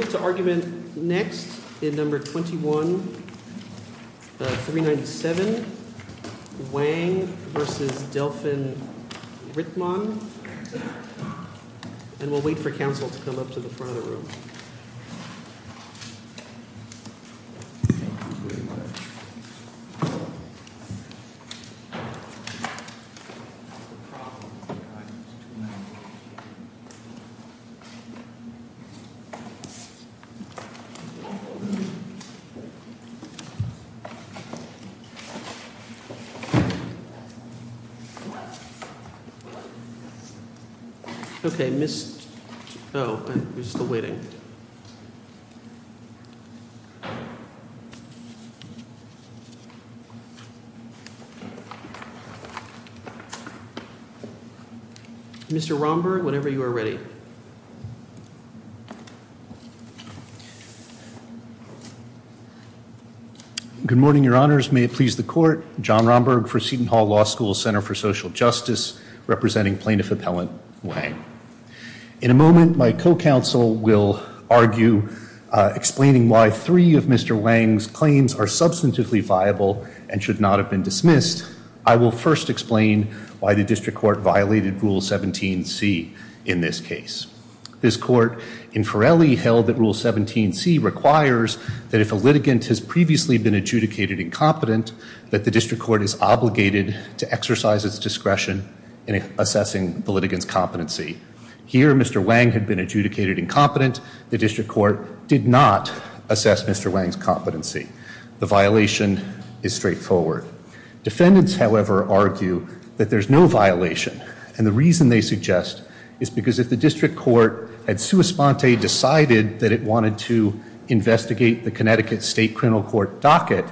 We'll move to argument next in No. 21-397, Wang v. Delphin-Rittmon. And we'll wait for counsel to come up to the front of the room. Mr. Romberg, whenever you are ready. Thank you. Good morning, your honors. May it please the court. John Romberg for Seton Hall Law School Center for Social Justice, representing Plaintiff Appellant Wang. In a moment, my co-counsel will argue explaining why three of Mr. Wang's claims are substantively viable and should not have been dismissed. I will first explain why the district court violated Rule 17c in this case. This court, in Forelli, held that Rule 17c requires that if a litigant has previously been adjudicated incompetent, that the district court is obligated to exercise its discretion in assessing the litigant's competency. Here, Mr. Wang had been adjudicated incompetent. The district court did not assess Mr. Wang's competency. The violation is straightforward. Defendants, however, argue that there's no violation. And the reason they suggest is because if the district court had sua sponte decided that it wanted to investigate the Connecticut state criminal court docket,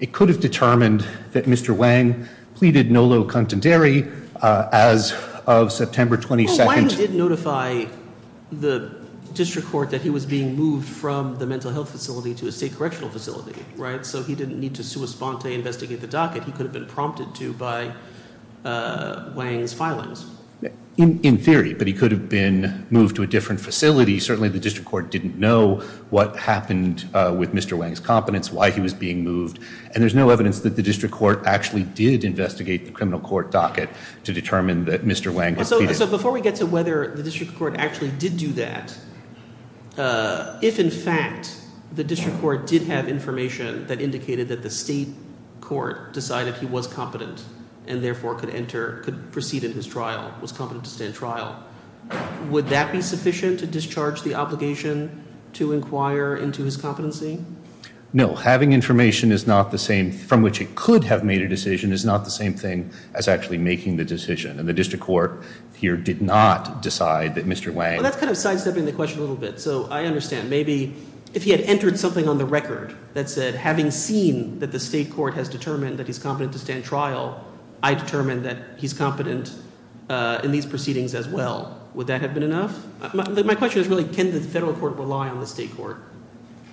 it could have determined that Mr. Wang pleaded no low contendere as of September 22nd. But Wang did notify the district court that he was being moved from the mental health facility to a state correctional facility, right? So he didn't need to sua sponte investigate the docket. He could have been prompted to by Wang's filings. In theory, but he could have been moved to a different facility. Certainly, the district court didn't know what happened with Mr. Wang's competence, why he was being moved. And there's no evidence that the district court actually did investigate the criminal court docket to determine that Mr. Wang had pleaded. So before we get to whether the district court actually did do that, if in fact the district court did have information that indicated that the state court decided he was competent and therefore could enter, could proceed in his trial, was competent to stand trial, would that be sufficient to discharge the obligation to inquire into his competency? No. Having information is not the same from which it could have made a decision is not the same thing as actually making the decision. And the district court here did not decide that Mr. Wang. Well, that's kind of sidestepping the question a little bit. So I understand maybe if he had entered something on the record that said, having seen that the state court has determined that he's competent to stand trial, I determined that he's competent in these proceedings as well. Would that have been enough? My question is really, can the federal court rely on the state court?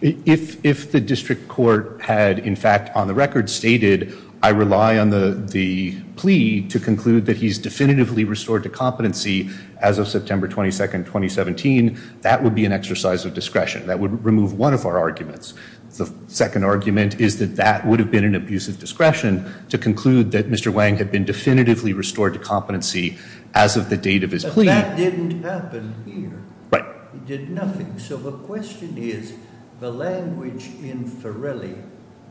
If the district court had, in fact, on the record stated, I rely on the plea to conclude that he's definitively restored to competency as of September 22nd, 2017, that would be an exercise of discretion that would remove one of our arguments. The second argument is that that would have been an abuse of discretion to conclude that Mr. Wang had been definitively restored to competency as of the date of his plea. That didn't happen here. It did nothing. So the question is, the language in Ferrelli,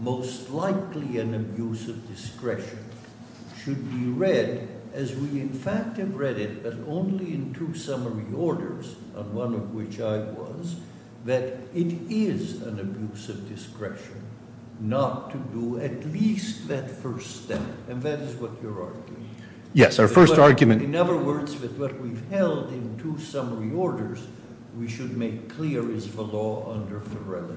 most likely an abuse of discretion, should be read as we, in fact, have read it, but only in two summary orders, on one of which I was, that it is an abuse of discretion not to do at least that first step. And that is what you're arguing. Yes, our first argument. In other words, with what we've held in two summary orders, we should make clear is the law under Ferrelli.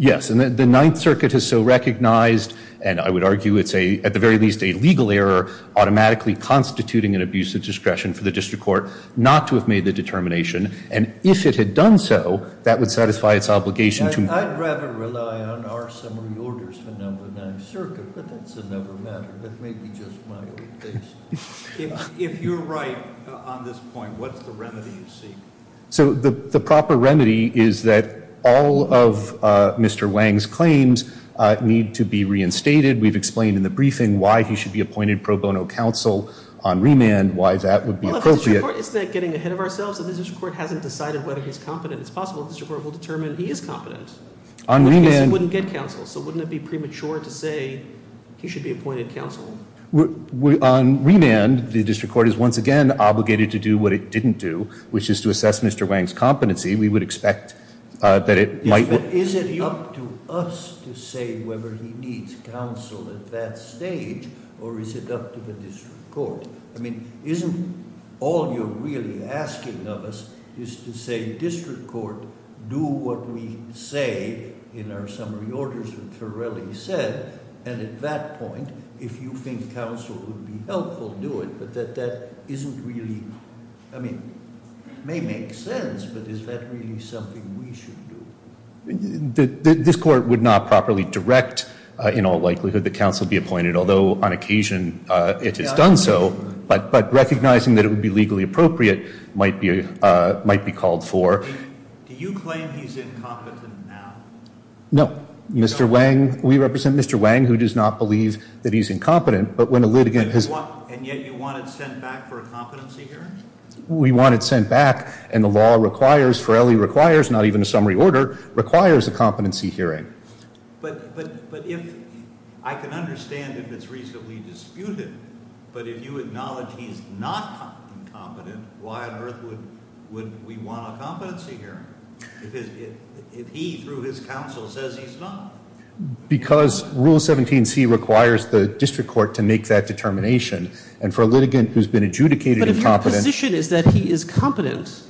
Yes, and the Ninth Circuit has so recognized, and I would argue it's a, at the very least, a legal error automatically constituting an abuse of discretion for the district court not to have made the determination. And if it had done so, that would satisfy its obligation to me. I'd rather rely on our summary orders than on the Ninth Circuit, but that's another matter. That may be just my old case. If you're right on this point, what's the remedy you seek? So the proper remedy is that all of Mr. Wang's claims need to be reinstated. We've explained in the briefing why he should be appointed pro bono counsel on remand, why that would be appropriate. Isn't that getting ahead of ourselves? The district court hasn't decided whether he's competent. It's possible the district court will determine he is competent. On remand. Because it wouldn't get counsel, so wouldn't it be premature to say he should be appointed counsel? On remand, the district court is once again obligated to do what it didn't do, which is to assess Mr. Wang's competency. We would expect that it might. But is it up to us to say whether he needs counsel at that stage, or is it up to the district court? I mean, isn't all you're really asking of us is to say district court, do what we say in our summary orders that Torelli said, and at that point, if you think counsel would be helpful, do it. But that isn't really, I mean, may make sense, but is that really something we should do? This court would not properly direct in all likelihood that counsel be appointed, although on occasion it has done so, but recognizing that it would be legally appropriate might be called for. Do you claim he's incompetent now? No. Mr. Wang, we represent Mr. Wang, who does not believe that he's incompetent, but when a litigant has And yet you want it sent back for a competency hearing? We want it sent back, and the law requires, Torelli requires, not even a summary order, requires a competency hearing. But if I can understand if it's reasonably disputed, but if you acknowledge he's not incompetent, why on earth would we want a competency hearing if he, through his counsel, says he's not? Because Rule 17c requires the district court to make that determination, and for a litigant who's been adjudicated incompetent But if your position is that he is competent,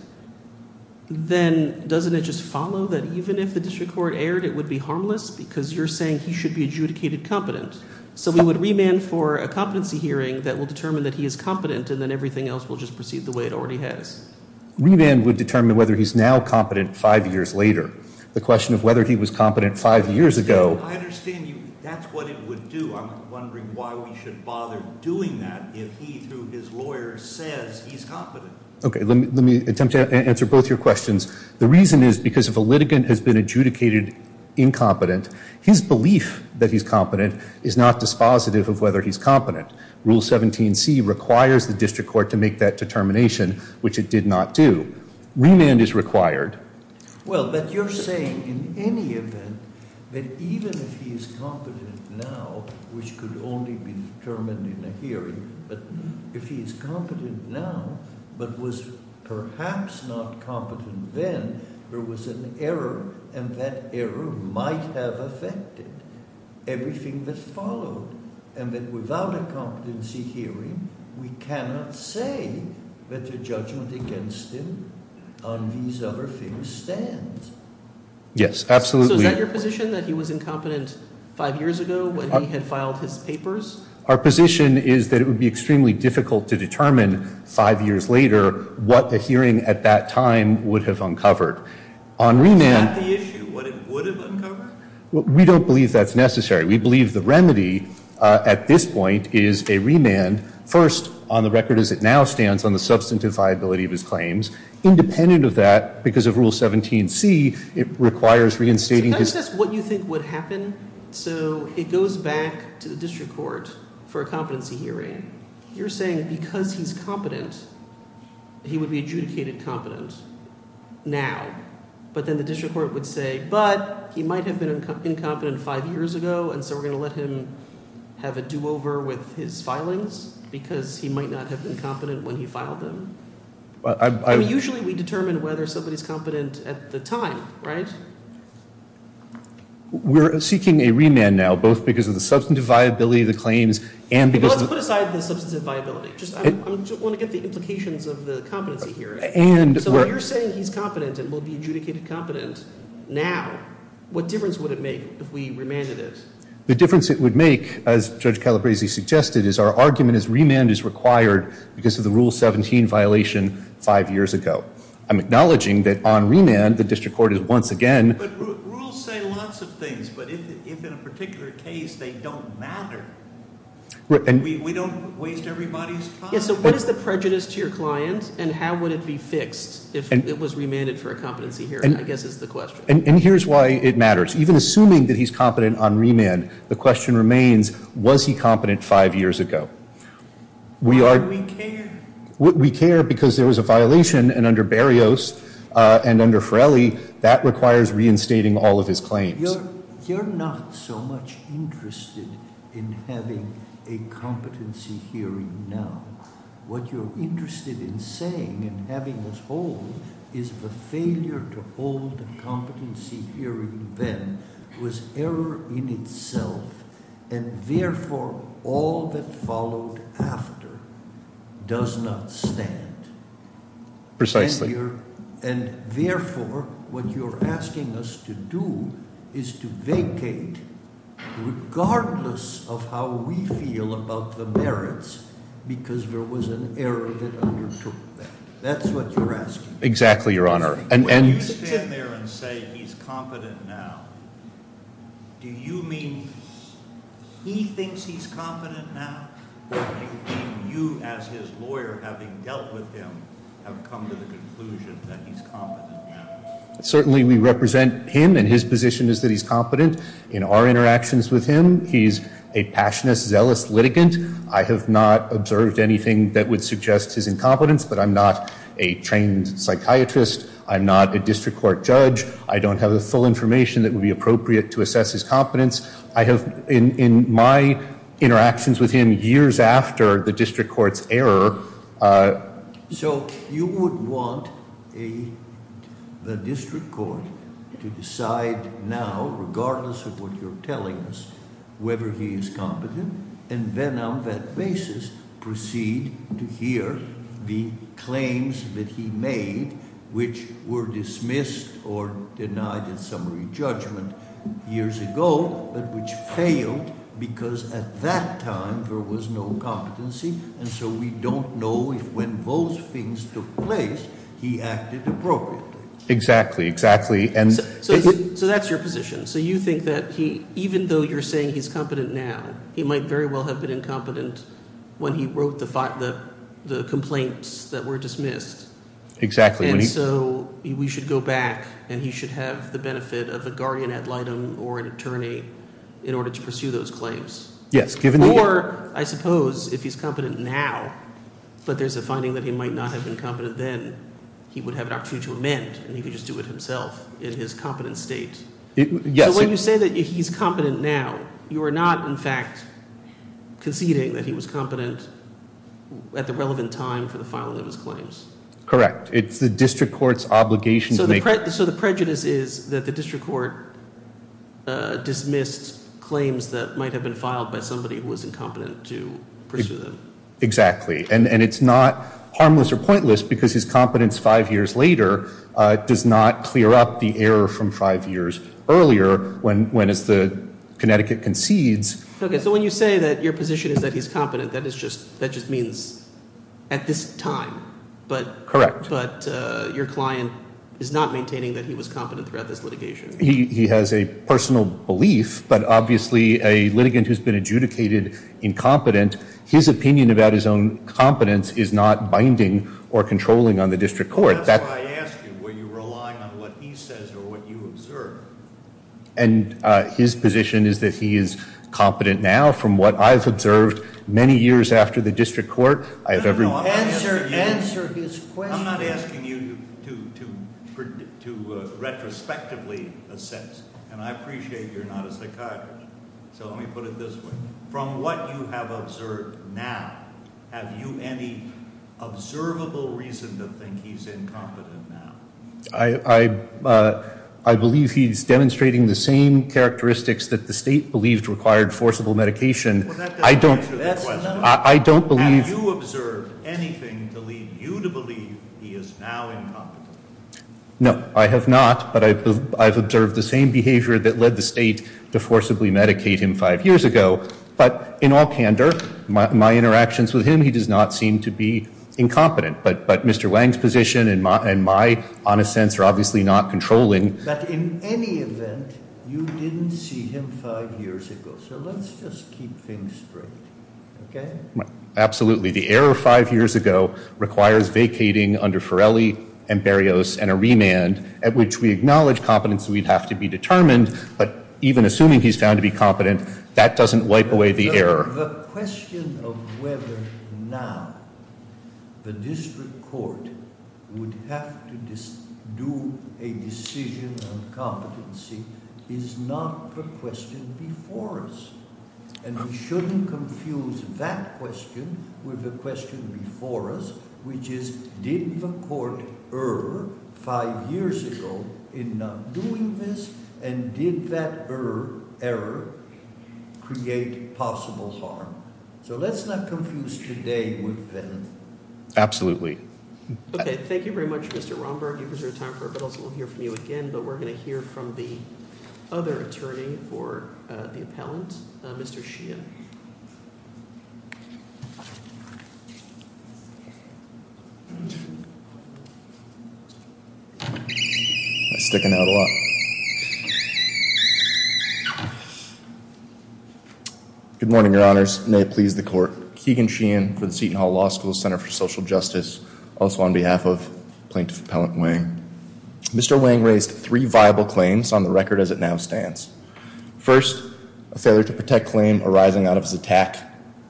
then doesn't it just follow that even if the district court erred, it would be harmless because you're saying he should be adjudicated competent? So we would remand for a competency hearing that will determine that he is competent, and then everything else will just proceed the way it already has. Remand would determine whether he's now competent five years later. The question of whether he was competent five years ago I understand you. That's what it would do. I'm wondering why we should bother doing that if he, through his lawyer, says he's competent. Okay, let me attempt to answer both your questions. The reason is because if a litigant has been adjudicated incompetent, his belief that he's competent is not dispositive of whether he's competent. Rule 17c requires the district court to make that determination, which it did not do. Remand is required. Well, but you're saying in any event that even if he is competent now, which could only be determined in a hearing, but if he's competent now but was perhaps not competent then, there was an error, and that error might have affected everything that followed, and that without a competency hearing, we cannot say that the judgment against him on these other things stands. Yes, absolutely. So is that your position, that he was incompetent five years ago when he had filed his papers? Our position is that it would be extremely difficult to determine five years later what a hearing at that time would have uncovered. Is that the issue, what it would have uncovered? We don't believe that's necessary. We believe the remedy at this point is a remand, first, on the record as it now stands, on the substantive viability of his claims. Independent of that, because of Rule 17c, it requires reinstating his- for a competency hearing. You're saying because he's competent, he would be adjudicated competent now, but then the district court would say, but he might have been incompetent five years ago, and so we're going to let him have a do-over with his filings because he might not have been competent when he filed them. I mean, usually we determine whether somebody's competent at the time, right? We're seeking a remand now, both because of the substantive viability of the claims and because- Let's put aside the substantive viability. I just want to get the implications of the competency hearing. So you're saying he's competent and will be adjudicated competent now. What difference would it make if we remanded it? The difference it would make, as Judge Calabresi suggested, is our argument is remand is required because of the Rule 17 violation five years ago. I'm acknowledging that on remand, the district court is once again- But rules say lots of things, but if in a particular case they don't matter, we don't waste everybody's time. Yeah, so what is the prejudice to your client and how would it be fixed if it was remanded for a competency hearing, I guess is the question. And here's why it matters. Even assuming that he's competent on remand, the question remains, was he competent five years ago? We are- We care. We care because there was a violation and under Berrios and under Ferrelli, that requires reinstating all of his claims. You're not so much interested in having a competency hearing now. What you're interested in saying and having us hold is the failure to hold a competency hearing then was error in itself and therefore all that followed after does not stand. Precisely. And therefore, what you're asking us to do is to vacate regardless of how we feel about the merits because there was an error that undertook that. That's what you're asking. Exactly, Your Honor. When you stand there and say he's competent now, do you mean he thinks he's competent now or do you mean you as his lawyer having dealt with him have come to the conclusion that he's competent now? Certainly we represent him and his position is that he's competent. In our interactions with him, he's a passionate, zealous litigant. I have not observed anything that would suggest his incompetence, but I'm not a trained psychiatrist. I'm not a district court judge. I don't have the full information that would be appropriate to assess his competence. In my interactions with him years after the district court's error. So you would want the district court to decide now, regardless of what you're telling us, whether he is competent and then on that basis proceed to hear the claims that he made, which were dismissed or denied in summary judgment years ago, but which failed because at that time there was no competency, and so we don't know if when those things took place he acted appropriately. Exactly, exactly. So that's your position. So you think that even though you're saying he's competent now, he might very well have been incompetent when he wrote the complaints that were dismissed. Exactly. And so we should go back and he should have the benefit of a guardian ad litem or an attorney in order to pursue those claims. Yes. Or I suppose if he's competent now, but there's a finding that he might not have been competent then, he would have an opportunity to amend and he could just do it himself in his competent state. Yes. So when you say that he's competent now, you are not in fact conceding that he was competent at the relevant time for the filing of his claims. Correct. It's the district court's obligation to make. So the prejudice is that the district court dismissed claims that might have been filed by somebody who was incompetent to pursue them. Exactly. And it's not harmless or pointless because his competence five years later does not clear up the error from five years earlier when, as Connecticut concedes. Okay, so when you say that your position is that he's competent, that just means at this time. Correct. But your client is not maintaining that he was competent throughout this litigation. He has a personal belief, but obviously a litigant who's been adjudicated incompetent, his opinion about his own competence is not binding or controlling on the district court. That's why I asked you, were you relying on what he says or what you observed? And his position is that he is competent now from what I've observed many years after the district court. Answer his question. I'm not asking you to retrospectively assess. And I appreciate you're not a psychiatrist. So let me put it this way. From what you have observed now, have you any observable reason to think he's incompetent now? I believe he's demonstrating the same characteristics that the state believed required forcible medication. I don't believe. Have you observed anything to lead you to believe he is now incompetent? No, I have not. But I've observed the same behavior that led the state to forcibly medicate him five years ago. But in all candor, my interactions with him, he does not seem to be incompetent. But Mr. Wang's position and my honest sense are obviously not controlling. But in any event, you didn't see him five years ago. So let's just keep things straight, okay? Absolutely. The error five years ago requires vacating under Ferrelli and Berrios and a remand, at which we acknowledge competency would have to be determined. But even assuming he's found to be competent, that doesn't wipe away the error. The question of whether now the district court would have to do a decision on competency is not the question before us. And we shouldn't confuse that question with the question before us, which is, did the court err five years ago in not doing this, and did that error create possible harm? So let's not confuse today with then. Absolutely. Okay, thank you very much, Mr. Romberg. We'll hear from you again, but we're going to hear from the other attorney for the appellant, Mr. Sheehan. Good morning, Your Honors. May it please the court. Keegan Sheehan for the Seton Hall Law School Center for Social Justice. Also on behalf of Plaintiff Appellant Wang. Mr. Wang raised three viable claims on the record as it now stands. First, a failure to protect claim arising out of his attack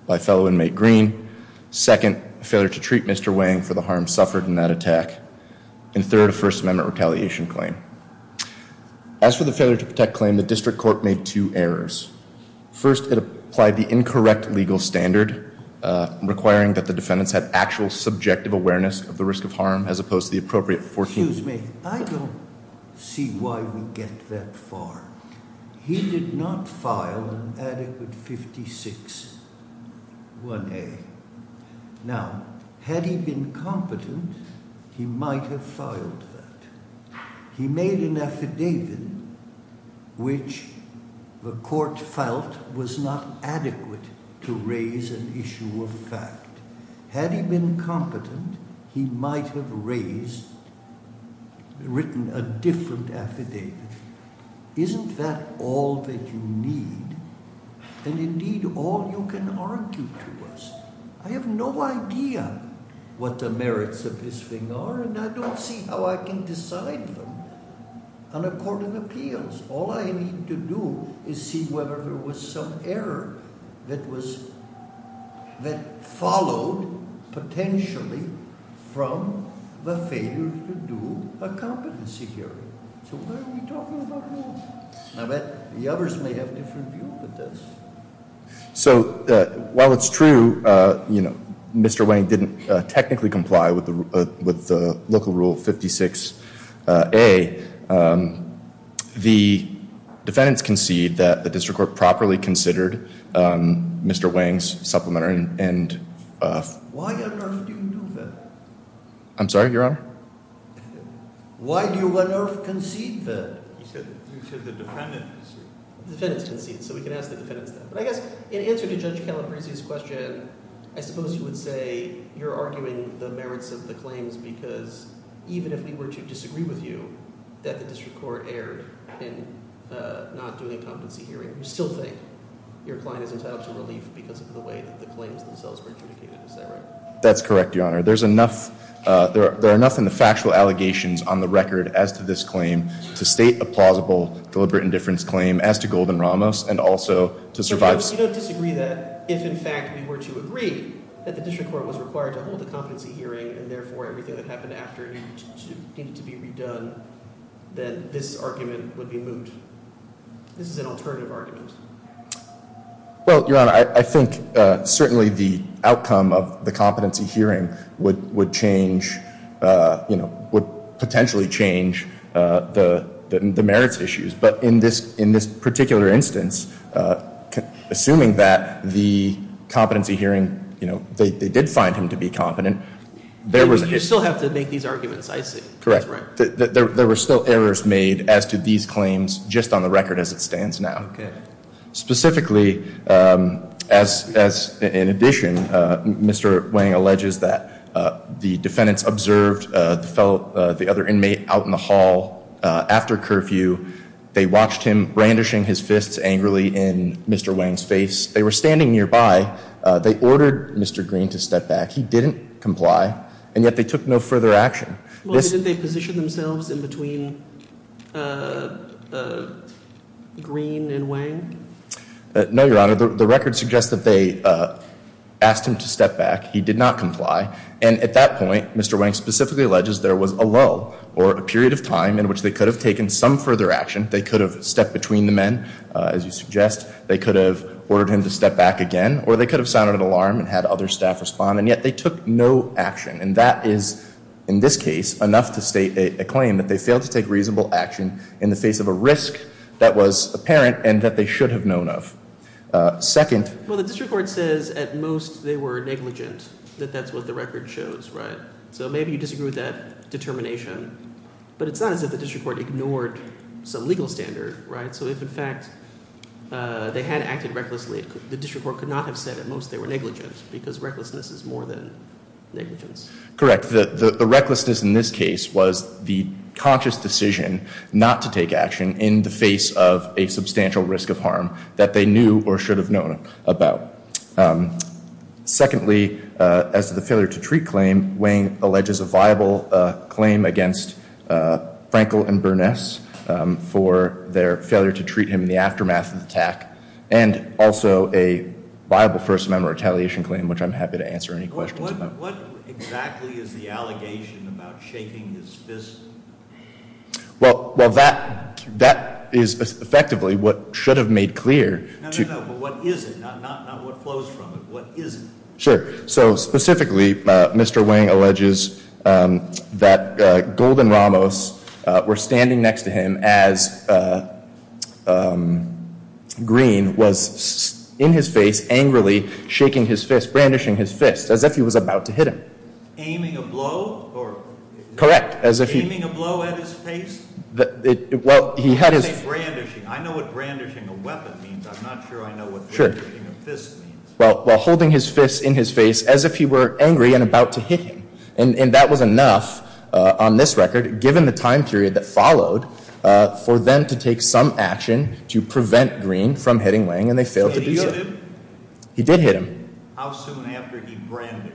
by fellow inmate Green. Second, a failure to treat Mr. Wang for the harm suffered in that attack. And third, a First Amendment retaliation claim. As for the failure to protect claim, the district court made two errors. First, it applied the incorrect legal standard, requiring that the defendants have actual subjective awareness of the risk of harm, as opposed to the appropriate 14- Excuse me. I don't see why we get that far. He did not file an adequate 56-1A. Now, had he been competent, he might have filed that. He made an affidavit which the court felt was not adequate to raise an issue of fact. Had he been competent, he might have raised, written a different affidavit. Isn't that all that you need? And indeed, all you can argue to us. I have no idea what the merits of this thing are, and I don't see how I can decide them on a court of appeals. All I need to do is see whether there was some error that was, that followed potentially from the failure to do a competency hearing. So why are we talking about war? I bet the others may have a different view of this. So while it's true, you know, Mr. Wang didn't technically comply with the local rule 56-A, the defendants concede that the district court properly considered Mr. Wang's supplementary and- Why on earth do you do that? I'm sorry, Your Honor? Why do you on earth concede that? You said the defendants concede. The defendants concede, so we can ask the defendants that. But I guess in answer to Judge Calabresi's question, I suppose you would say you're arguing the merits of the claims because even if we were to disagree with you that the district court erred in not doing a competency hearing, you still think your client is entitled to relief because of the way that the claims themselves were adjudicated. Is that right? That's correct, Your Honor. There are enough in the factual allegations on the record as to this claim to state a plausible deliberate indifference claim as to Golden-Ramos and also to survive- So you don't disagree that if in fact we were to agree that the district court was required to hold a competency hearing and therefore everything that happened after needed to be redone, that this argument would be moved? This is an alternative argument. Well, Your Honor, I think certainly the outcome of the competency hearing would change, would potentially change the merits issues. But in this particular instance, assuming that the competency hearing, they did find him to be competent- You still have to make these arguments, I see. Correct. There were still errors made as to these claims just on the record as it stands now. Specifically, in addition, Mr. Wang alleges that the defendants observed the other inmate out in the hall after curfew. They watched him brandishing his fists angrily in Mr. Wang's face. They were standing nearby. They ordered Mr. Green to step back. He didn't comply, and yet they took no further action. Well, did they position themselves in between Green and Wang? No, Your Honor. The record suggests that they asked him to step back. He did not comply. And at that point, Mr. Wang specifically alleges there was a lull or a period of time in which they could have taken some further action. They could have stepped between the men, as you suggest. They could have ordered him to step back again. Or they could have sounded an alarm and had other staff respond. And yet they took no action. And that is, in this case, enough to state a claim that they failed to take reasonable action in the face of a risk that was apparent and that they should have known of. Well, the district court says at most they were negligent, that that's what the record shows, right? So maybe you disagree with that determination. But it's not as if the district court ignored some legal standard, right? So if, in fact, they had acted recklessly, the district court could not have said at most they were negligent because recklessness is more than negligence? Correct. The recklessness in this case was the conscious decision not to take action in the face of a substantial risk of harm that they knew or should have known about. Secondly, as to the failure to treat claim, Wayne alleges a viable claim against Frankel and Burness for their failure to treat him in the aftermath of the attack. And also a viable First Amendment retaliation claim, which I'm happy to answer any questions about. What exactly is the allegation about shaking his fist? Well, that is effectively what should have made clear. No, no, no. But what is it? Not what flows from it. What is it? Sure. So specifically, Mr. Wayne alleges that Golden Ramos were standing next to him as Green was in his face angrily shaking his fist, brandishing his fist, as if he was about to hit him. Aiming a blow? Correct. Aiming a blow at his face? I know what brandishing a weapon means. I'm not sure I know what brandishing a fist means. Well, holding his fist in his face as if he were angry and about to hit him. And that was enough on this record, given the time period that followed, for them to take some action to prevent Green from hitting Wayne, and they failed to do so. Did he hit him? He did hit him. How soon after he brandished?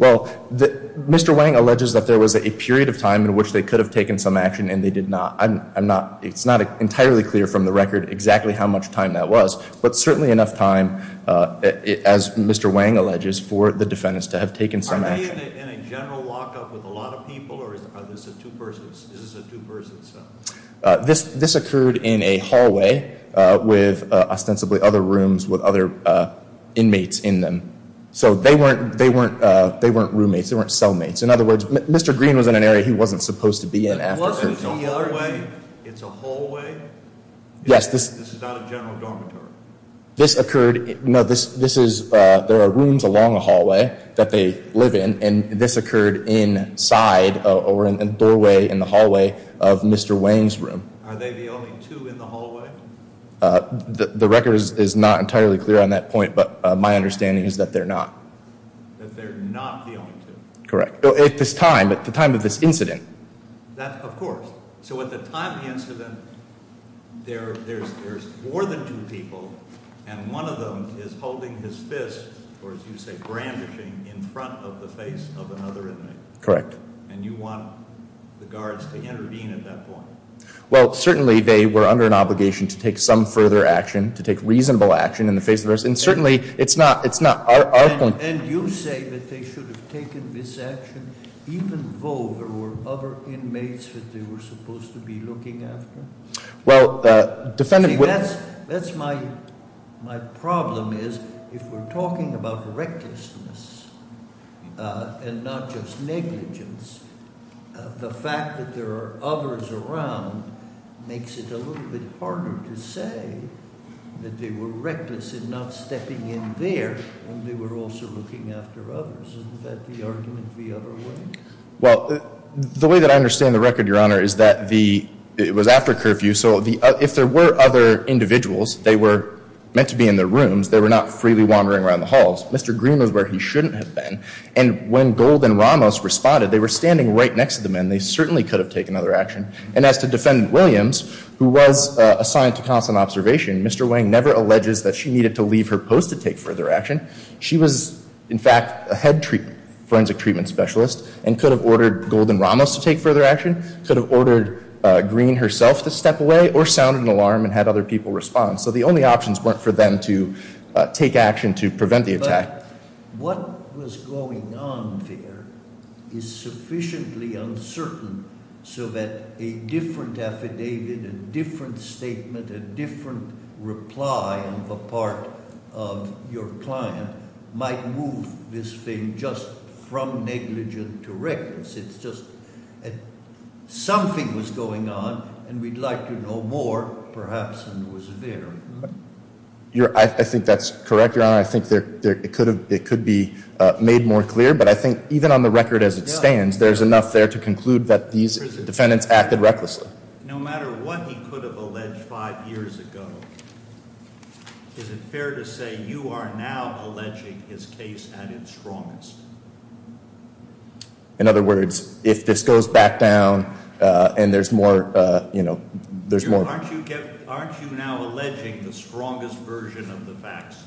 Well, Mr. Wayne alleges that there was a period of time in which they could have taken some action, and they did not. I'm not, it's not entirely clear from the record exactly how much time that was, but certainly enough time, as Mr. Wayne alleges, for the defendants to have taken some action. Are they in a general lockup with a lot of people, or is this a two-person, is this a two-person cell? This occurred in a hallway with ostensibly other rooms with other inmates in them. So they weren't roommates, they weren't cellmates. In other words, Mr. Green was in an area he wasn't supposed to be in. It wasn't a hallway? It's a hallway? Yes. This is not a general dormitory? This occurred, no, this is, there are rooms along the hallway that they live in, and this occurred inside, over in the doorway in the hallway of Mr. Wayne's room. Are they the only two in the hallway? The record is not entirely clear on that point, but my understanding is that they're not. That they're not the only two? Correct. At this time, at the time of this incident. Of course. So at the time of the incident, there's more than two people, and one of them is holding his fist, or as you say, brandishing, in front of the face of another inmate? Correct. And you want the guards to intervene at that point? Well, certainly they were under an obligation to take some further action, to take reasonable action in the face of others, and certainly it's not our point. And you say that they should have taken this action even though there were other inmates that they were supposed to be looking after? That's my problem, is if we're talking about recklessness and not just negligence, the fact that there are others around makes it a little bit harder to say that they were reckless in not stepping in there, and they were also looking after others. Isn't that the argument the other way? Well, the way that I understand the record, Your Honor, is that it was after curfew, so if there were other individuals, they were meant to be in their rooms, they were not freely wandering around the halls. Mr. Green was where he shouldn't have been. And when Gold and Ramos responded, they were standing right next to the men. They certainly could have taken other action. And as to Defendant Williams, who was assigned to counsel and observation, Mr. Wang never alleges that she needed to leave her post to take further action. She was, in fact, a head forensic treatment specialist and could have ordered Gold and Ramos to take further action, could have ordered Green herself to step away, or sounded an alarm and had other people respond. So the only options weren't for them to take action to prevent the attack. What was going on there is sufficiently uncertain so that a different affidavit, a different statement, a different reply on the part of your client might move this thing just from negligent to reckless. It's just something was going on, and we'd like to know more, perhaps, than was there. I think that's correct, Your Honor. I think it could be made more clear. But I think even on the record as it stands, there's enough there to conclude that these defendants acted recklessly. No matter what he could have alleged five years ago, is it fair to say you are now alleging his case at its strongest? In other words, if this goes back down and there's more, you know, there's more. Aren't you now alleging the strongest version of the facts?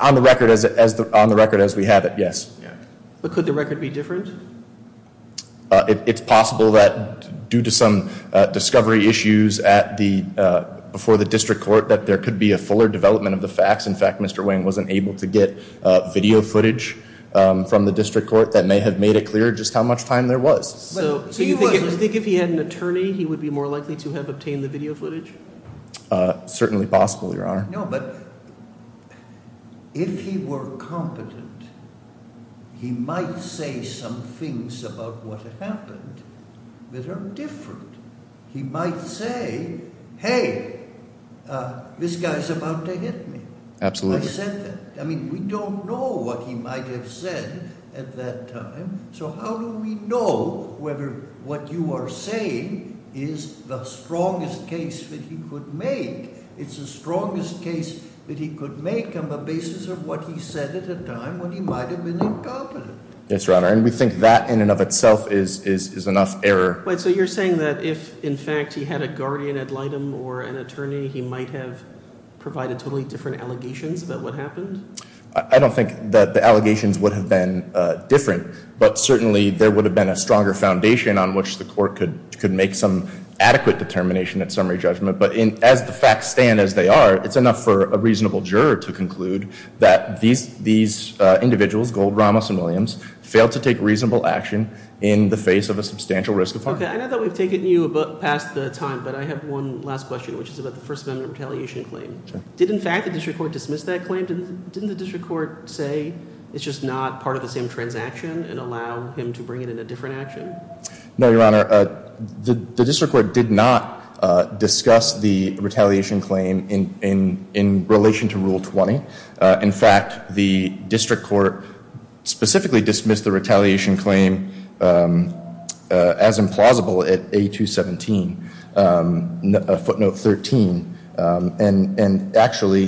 On the record as we have it, yes. But could the record be different? It's possible that due to some discovery issues before the district court that there could be a fuller development of the facts. In fact, Mr. Wayne wasn't able to get video footage from the district court that may have made it clear just how much time there was. So you think if he had an attorney, he would be more likely to have obtained the video footage? Certainly possible, Your Honor. No, but if he were competent, he might say some things about what happened that are different. He might say, hey, this guy's about to hit me. Absolutely. I mean, we don't know what he might have said at that time. So how do we know whether what you are saying is the strongest case that he could make? It's the strongest case that he could make on the basis of what he said at a time when he might have been incompetent. Yes, Your Honor, and we think that in and of itself is enough error. So you're saying that if, in fact, he had a guardian ad litem or an attorney, he might have provided totally different allegations about what happened? I don't think that the allegations would have been different, but certainly there would have been a stronger foundation on which the court could make some adequate determination at summary judgment. But as the facts stand as they are, it's enough for a reasonable juror to conclude that these individuals, Gold, Ramos, and Williams, failed to take reasonable action in the face of a substantial risk of harm. Okay, I know that we've taken you past the time, but I have one last question, which is about the First Amendment retaliation claim. Did, in fact, the district court dismiss that claim? Didn't the district court say it's just not part of the same transaction and allow him to bring it in a different action? No, Your Honor. The district court did not discuss the retaliation claim in relation to Rule 20. In fact, the district court specifically dismissed the retaliation claim as implausible at A217, footnote 13. And actually,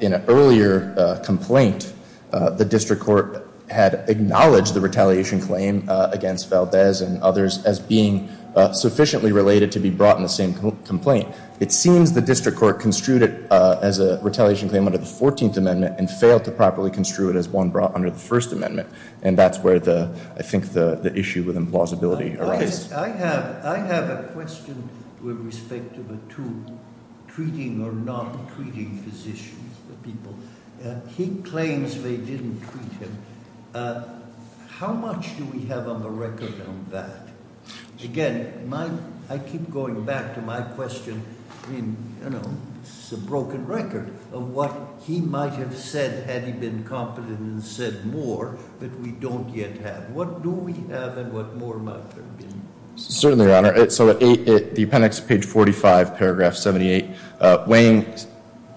in an earlier complaint, the district court had acknowledged the retaliation claim against Valdez and others as being sufficiently related to be brought in the same complaint. It seems the district court construed it as a retaliation claim under the 14th Amendment and failed to properly construe it as one brought under the First Amendment. And that's where I think the issue with implausibility arises. I have a question with respect to the two treating or not treating physicians, the people. He claims they didn't treat him. How much do we have on the record on that? Again, I keep going back to my question. I mean, you know, this is a broken record of what he might have said had he been competent and said more, but we don't yet have. What do we have and what more might there be? Certainly, Your Honor. So the appendix, page 45, paragraph 78, Wang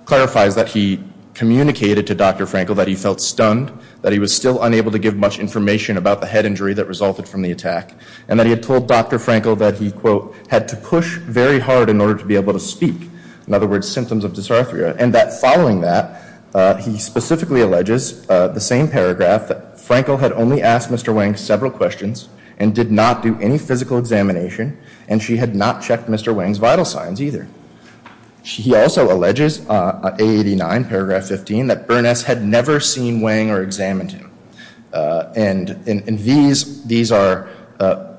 clarifies that he communicated to Dr. Frankel that he felt stunned, that he was still unable to give much information about the head injury that resulted from the attack, and that he had told Dr. Frankel that he, quote, had to push very hard in order to be able to speak. In other words, symptoms of dysarthria. And that following that, he specifically alleges the same paragraph, that Frankel had only asked Mr. Wang several questions and did not do any physical examination, and she had not checked Mr. Wang's vital signs either. She also alleges, A89, paragraph 15, that Burness had never seen Wang or examined him. And in these, these are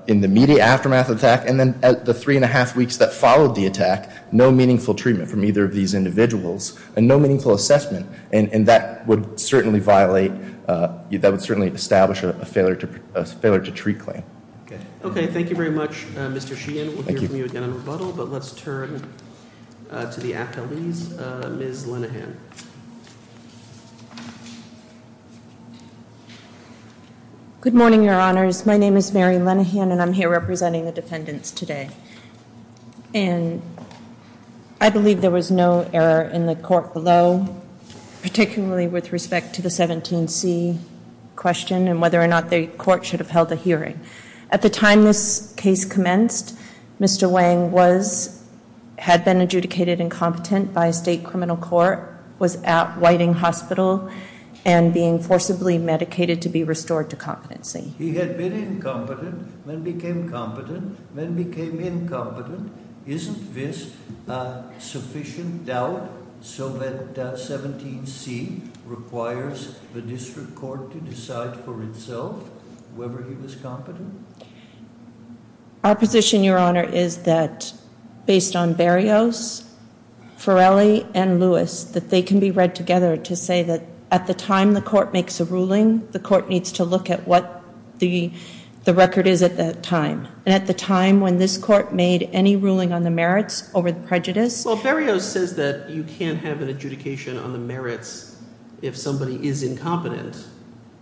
in the immediate aftermath of the attack and then the three and a half weeks that followed the attack, no meaningful treatment from either of these individuals and no meaningful assessment. And that would certainly violate, that would certainly establish a failure to treat claim. Okay. Okay, thank you very much, Mr. Sheehan. We'll hear from you again in rebuttal, but let's turn to the appellees. Ms. Linehan. Good morning, Your Honors. My name is Mary Linehan, and I'm here representing the defendants today. And I believe there was no error in the court below, particularly with respect to the 17C question and whether or not the court should have held a hearing. At the time this case commenced, Mr. Wang was, had been adjudicated incompetent by a state criminal court, was at Whiting Hospital and being forcibly medicated to be restored to competency. He had been incompetent, then became competent, then became incompetent. Isn't this sufficient doubt so that 17C requires the district court to decide for itself whether he was competent? Our position, Your Honor, is that based on Berrios, Forelli, and Lewis, that they can be read together to say that at the time the court makes a ruling, the court needs to look at what the record is at that time, and at the time when this court made any ruling on the merits over the prejudice. Well, Berrios says that you can't have an adjudication on the merits if somebody is incompetent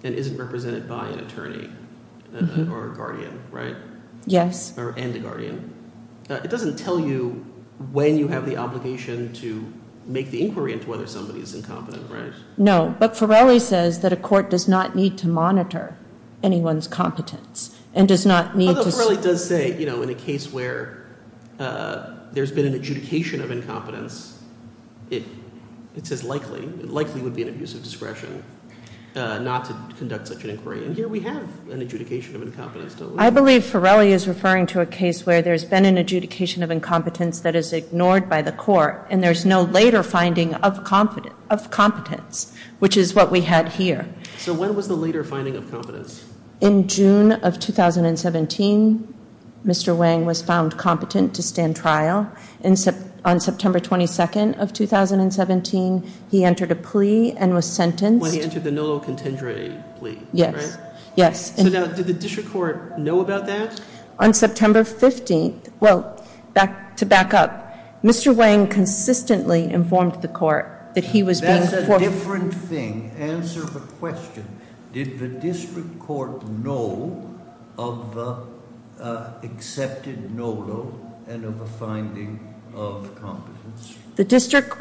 and isn't represented by an attorney or a guardian, right? Yes. And a guardian. It doesn't tell you when you have the obligation to make the inquiry into whether somebody is incompetent, right? No, but Forelli says that a court does not need to monitor anyone's competence and does not need to- Although Forelli does say, you know, in a case where there's been an adjudication of incompetence, it's as likely, it likely would be an abuse of discretion not to conduct such an inquiry. And here we have an adjudication of incompetence, don't we? I believe Forelli is referring to a case where there's been an adjudication of incompetence that is ignored by the court, and there's no later finding of competence, which is what we had here. So when was the later finding of competence? In June of 2017, Mr. Wang was found competent to stand trial. On September 22nd of 2017, he entered a plea and was sentenced. When he entered the Nolo Contingere plea, right? Yes. So now, did the district court know about that? On September 15th, well, to back up, Mr. Wang consistently informed the court that he was being- That's a different thing. Answer the question. Did the district court know of the accepted Nolo and of a finding of competence?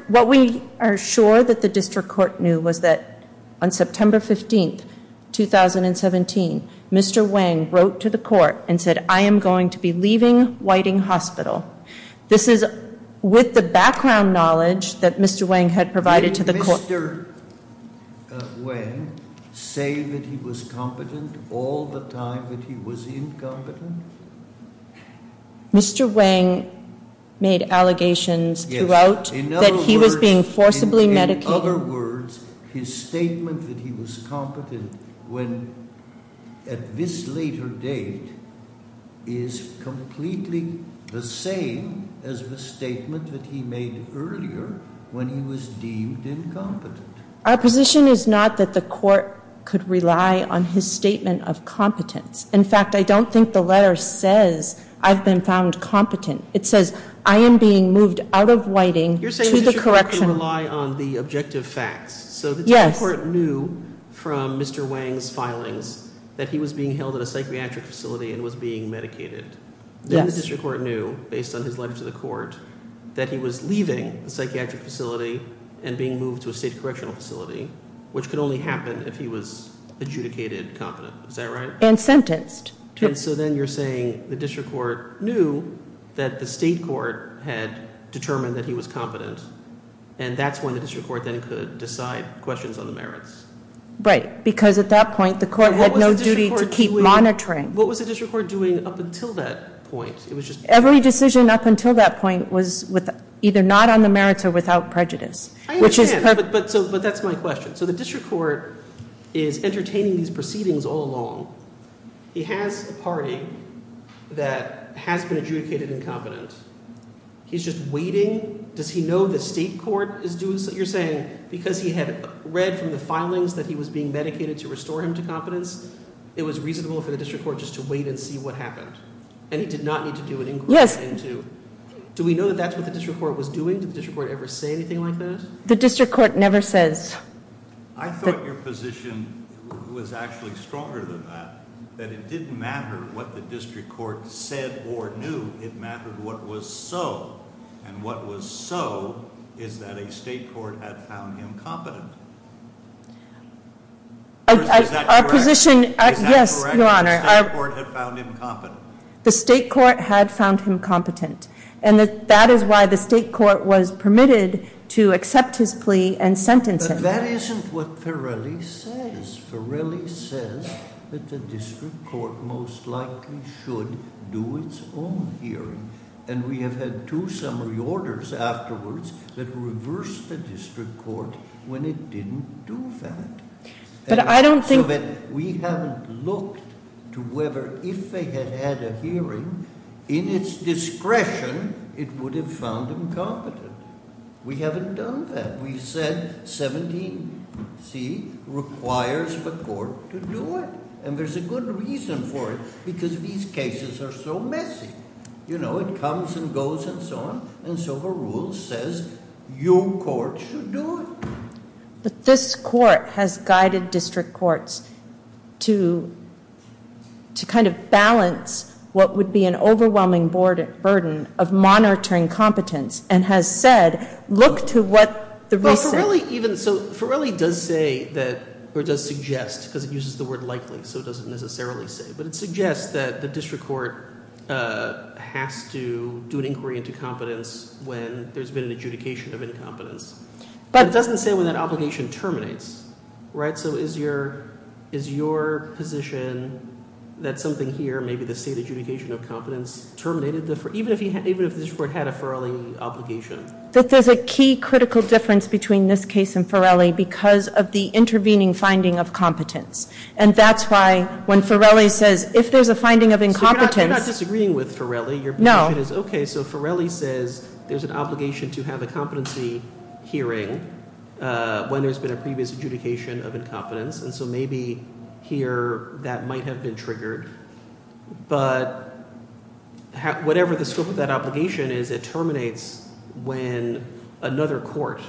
What we are sure that the district court knew was that on September 15th, 2017, Mr. Wang wrote to the court and said, I am going to be leaving Whiting Hospital. This is with the background knowledge that Mr. Wang had provided to the court. Did Mr. Wang say that he was competent all the time that he was incompetent? Mr. Wang made allegations throughout that he was being forcibly medicated. In other words, his statement that he was competent at this later date is completely the same as the statement that he made earlier when he was deemed incompetent. Our position is not that the court could rely on his statement of competence. In fact, I don't think the letter says I've been found competent. It says I am being moved out of Whiting to the correctional- You're saying the district court can rely on the objective facts. So the district court knew from Mr. Wang's filings that he was being held at a psychiatric facility and was being medicated. Then the district court knew, based on his letter to the court, that he was leaving a psychiatric facility and being moved to a state correctional facility, which could only happen if he was adjudicated competent. Is that right? And sentenced. And so then you're saying the district court knew that the state court had determined that he was competent, and that's when the district court then could decide questions on the merits. Right, because at that point the court had no duty to keep monitoring. What was the district court doing up until that point? Every decision up until that point was either not on the merits or without prejudice. I understand, but that's my question. So the district court is entertaining these proceedings all along. He has a party that has been adjudicated incompetent. He's just waiting. Does he know the state court is doing this? You're saying because he had read from the filings that he was being medicated to restore him to competence, it was reasonable for the district court just to wait and see what happened. And he did not need to do an inquiry into- Yes. Do we know that that's what the district court was doing? Did the district court ever say anything like that? The district court never says. I thought your position was actually stronger than that, that it didn't matter what the district court said or knew. It mattered what was so. And what was so is that a state court had found him competent. Is that correct? Yes, Your Honor. The state court had found him competent. The state court had found him competent. And that is why the state court was permitted to accept his plea and sentence him. But that isn't what Farrelly says. Farrelly says that the district court most likely should do its own hearing. And we have had two summary orders afterwards that reversed the district court when it didn't do that. But I don't think- It would have found him competent. We haven't done that. We said 17C requires the court to do it. And there's a good reason for it because these cases are so messy. You know, it comes and goes and so on. And so the rule says your court should do it. But this court has guided district courts to kind of balance what would be an overwhelming burden of monitoring competence and has said, look to what the reason- Well, Farrelly even- so Farrelly does say that- or does suggest, because it uses the word likely, so it doesn't necessarily say. But it suggests that the district court has to do an inquiry into competence when there's been an adjudication of incompetence. But it doesn't say when that obligation terminates, right? So is your position that something here, maybe the state adjudication of competence, terminated even if the district court had a Farrelly obligation? That there's a key critical difference between this case and Farrelly because of the intervening finding of competence. And that's why when Farrelly says if there's a finding of incompetence- So you're not disagreeing with Farrelly. No. My point is, okay, so Farrelly says there's an obligation to have a competency hearing when there's been a previous adjudication of incompetence. And so maybe here that might have been triggered. But whatever the scope of that obligation is, it terminates when another court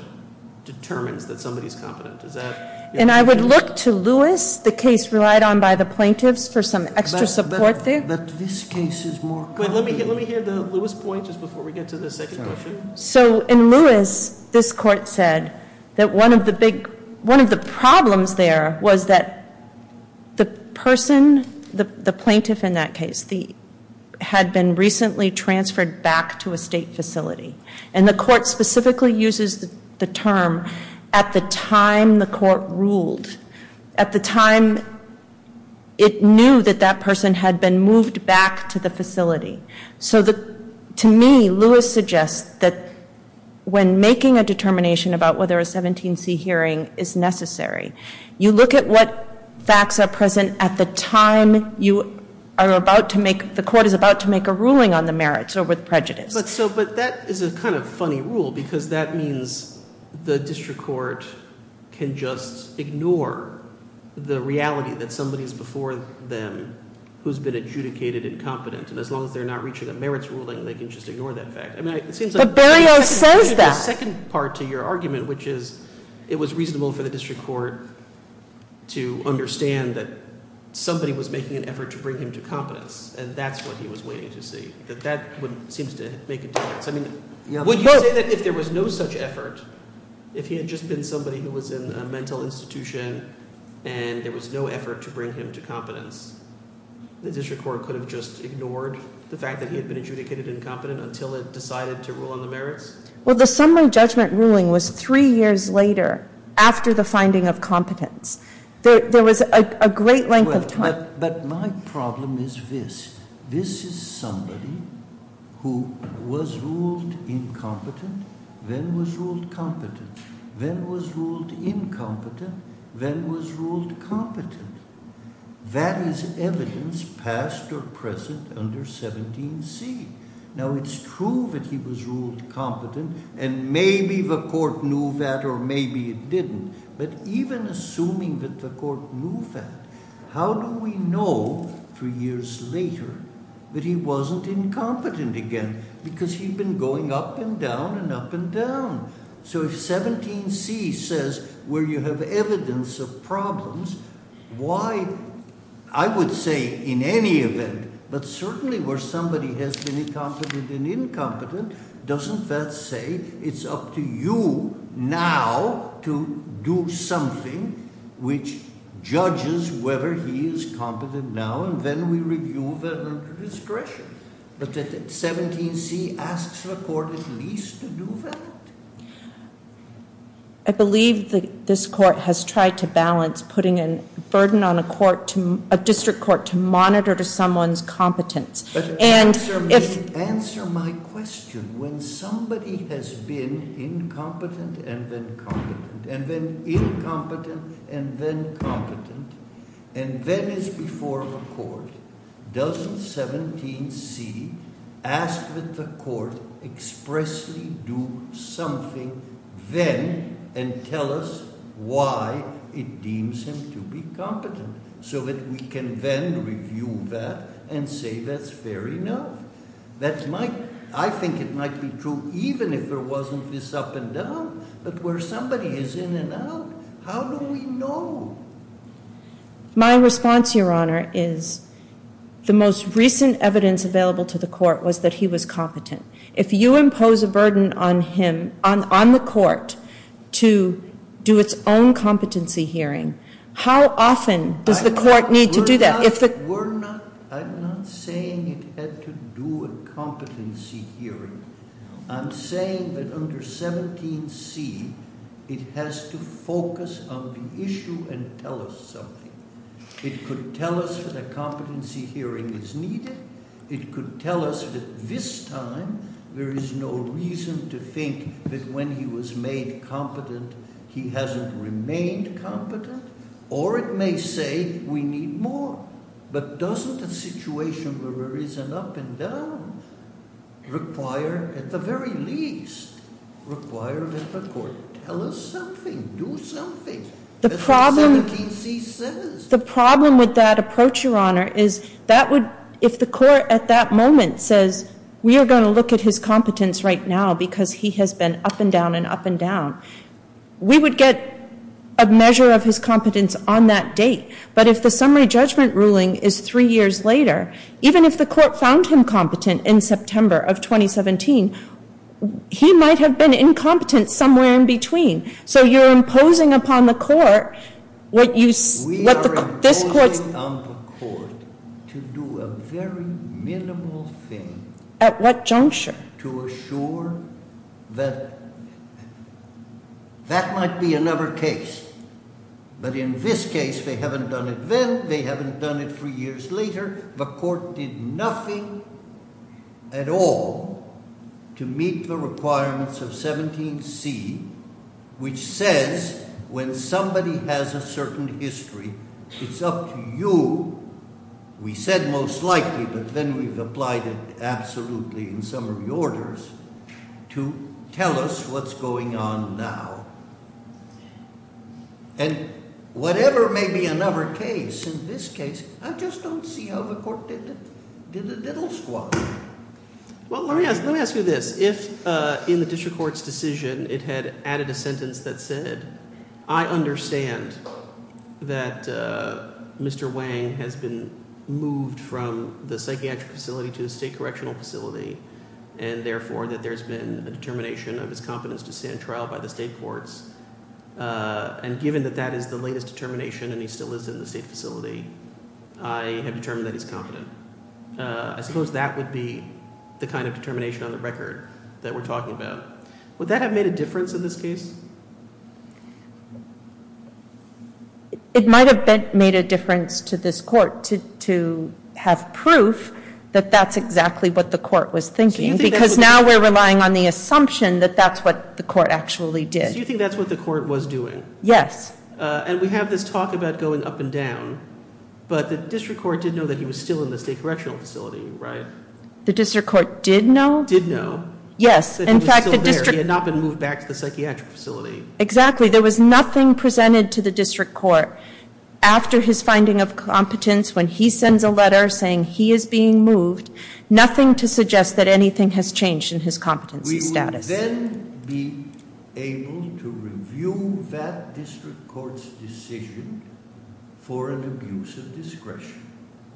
determines that somebody's competent. Is that- And I would look to Lewis, the case relied on by the plaintiffs, for some extra support there. But this case is more- Let me hear the Lewis point just before we get to the second question. So in Lewis, this court said that one of the problems there was that the person, the plaintiff in that case, had been recently transferred back to a state facility. And the court specifically uses the term at the time the court ruled. At the time, it knew that that person had been moved back to the facility. So to me, Lewis suggests that when making a determination about whether a 17C hearing is necessary, you look at what facts are present at the time you are about to make- the court is about to make a ruling on the merits or with prejudice. But that is a kind of funny rule, because that means the district court can just ignore the reality that somebody's before them who's been adjudicated incompetent. And as long as they're not reaching a merits ruling, they can just ignore that fact. I mean, it seems like- But Berio says that. The second part to your argument, which is it was reasonable for the district court to understand that somebody was making an effort to bring him to competence. And that's what he was waiting to see. That that seems to make a difference. I mean, would you say that if there was no such effort, if he had just been somebody who was in a mental institution, and there was no effort to bring him to competence, the district court could have just ignored the fact that he had been adjudicated incompetent until it decided to rule on the merits? Well, the summary judgment ruling was three years later, after the finding of competence. There was a great length of time- But my problem is this. This is somebody who was ruled incompetent, then was ruled competent, then was ruled incompetent, then was ruled competent. That is evidence past or present under 17C. Now, it's true that he was ruled competent, and maybe the court knew that, or maybe it didn't. But even assuming that the court knew that, how do we know, three years later, that he wasn't incompetent again? Because he'd been going up and down and up and down. So if 17C says, where you have evidence of problems, why, I would say, in any event, but certainly where somebody has been incompetent and incompetent, doesn't that say it's up to you now to do something which judges whether he is competent now, and then we review that under discretion? But 17C asks the court at least to do that? I believe this court has tried to balance putting a burden on a district court to monitor someone's competence. Answer my question. When somebody has been incompetent and then competent, and then incompetent and then competent, and then is before the court, doesn't 17C ask that the court expressly do something then and tell us why it deems him to be competent, so that we can then review that and say that's fair enough? I think it might be true even if there wasn't this up and down, but where somebody is in and out, how do we know? My response, Your Honor, is the most recent evidence available to the court was that he was competent. If you impose a burden on the court to do its own competency hearing, how often does the court need to do that? I'm not saying it had to do a competency hearing. I'm saying that under 17C it has to focus on the issue and tell us something. It could tell us that a competency hearing is needed. It could tell us that this time there is no reason to think that when he was made competent he hasn't remained competent, or it may say we need more. But doesn't the situation where there is an up and down require, at the very least, require that the court tell us something, do something? The problem with that approach, Your Honor, is if the court at that moment says we are going to look at his competence right now because he has been up and down and up and down, we would get a measure of his competence on that date. But if the summary judgment ruling is three years later, even if the court found him competent in September of 2017, he might have been incompetent somewhere in between. So you're imposing upon the court what you see. We are imposing on the court to do a very minimal thing. At what juncture? To assure that that might be another case. But in this case, they haven't done it then. They haven't done it three years later. The court did nothing at all to meet the requirements of 17C, which says when somebody has a certain history, it's up to you. We said most likely, but then we've applied it absolutely in summary orders, to tell us what's going on now. And whatever may be another case, in this case, I just don't see how the court did a little squat. Well, let me ask you this. If in the district court's decision it had added a sentence that said, I understand that Mr. Wang has been moved from the psychiatric facility to the state correctional facility, and therefore that there's been a determination of his competence to stand trial by the state courts, and given that that is the latest determination and he still is in the state facility, I have determined that he's competent. I suppose that would be the kind of determination on the record that we're talking about. Would that have made a difference in this case? It might have made a difference to this court to have proof that that's exactly what the court was thinking, because now we're relying on the assumption that that's what the court actually did. So you think that's what the court was doing? Yes. And we have this talk about going up and down, but the district court did know that he was still in the state correctional facility, right? The district court did know? Did know. Yes. That he was still there. He had not been moved back to the psychiatric facility. Exactly. There was nothing presented to the district court after his finding of competence when he sends a letter saying he is being moved, nothing to suggest that anything has changed in his competency status. We would then be able to review that district court's decision for an abuse of discretion,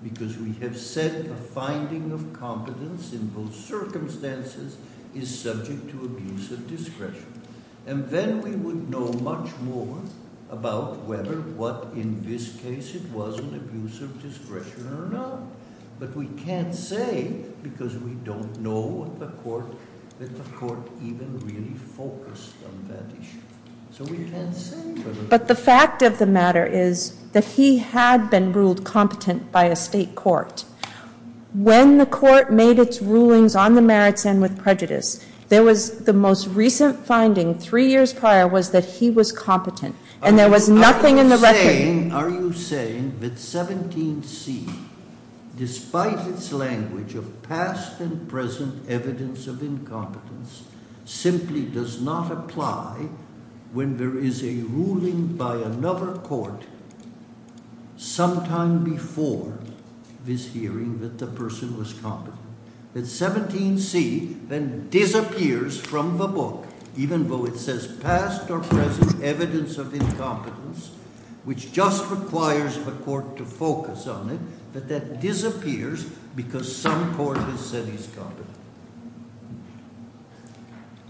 because we have said a finding of competence in both circumstances is subject to abuse of discretion. And then we would know much more about whether what, in this case, it was an abuse of discretion or not. But we can't say, because we don't know what the court, that the court even really focused on that issue. So we can't say. But the fact of the matter is that he had been ruled competent by a state court. When the court made its rulings on the merits and with prejudice, there was the most recent finding, three years prior, was that he was competent. And there was nothing in the record. Are you saying that 17C, despite its language of past and present evidence of incompetence, simply does not apply when there is a ruling by another court sometime before this hearing that the person was competent? That 17C then disappears from the book, even though it says past or present evidence of incompetence, which just requires a court to focus on it, that that disappears because some court has said he's competent?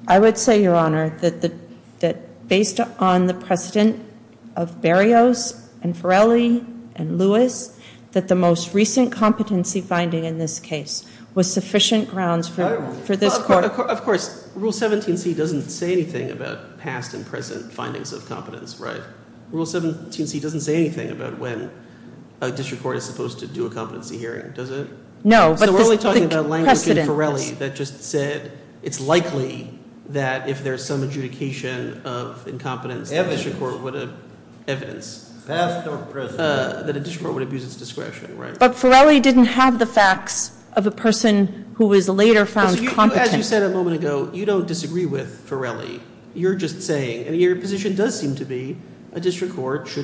I would say, Your Honor, that based on the precedent of Berrios and Farrelly and Lewis, that the most recent competency finding in this case was sufficient grounds for this court. Of course, Rule 17C doesn't say anything about past and present findings of competence, right? Rule 17C doesn't say anything about when a district court is supposed to do a competency hearing, does it? No, but the precedent. So we're only talking about language in Farrelly that just said it's likely that if there's some adjudication of incompetence that a district court would abuse its discretion, right? But Farrelly didn't have the facts of a person who was later found competent. As you said a moment ago, you don't disagree with Farrelly. You're just saying, and your position does seem to be, a district court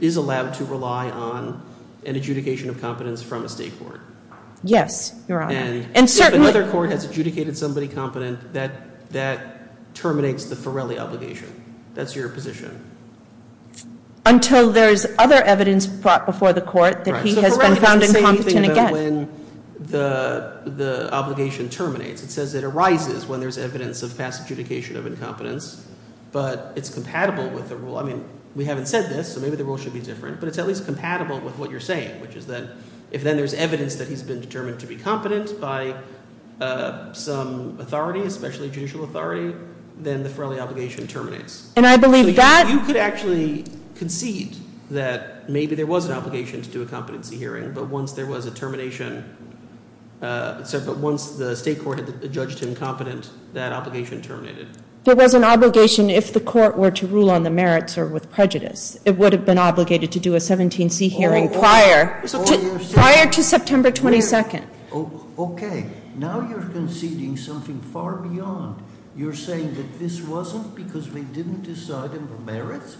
is allowed to rely on an adjudication of competence from a state court. Yes, Your Honor. And if another court has adjudicated somebody competent, that terminates the Farrelly obligation. That's your position. Until there is other evidence brought before the court that he has been found incompetent again. Farrelly doesn't say anything about when the obligation terminates. It says it arises when there's evidence of past adjudication of incompetence, but it's compatible with the rule. I mean, we haven't said this, so maybe the rule should be different, but it's at least compatible with what you're saying, which is that if then there's evidence that he's been determined to be competent by some authority, especially judicial authority, then the Farrelly obligation terminates. And I believe that— You could actually concede that maybe there was an obligation to do a competency hearing, but once there was a termination, but once the state court had judged him competent, that obligation terminated. There was an obligation if the court were to rule on the merits or with prejudice. It would have been obligated to do a 17C hearing prior. Prior to September 22nd. Okay. Now you're conceding something far beyond. You're saying that this wasn't because we didn't decide on the merits?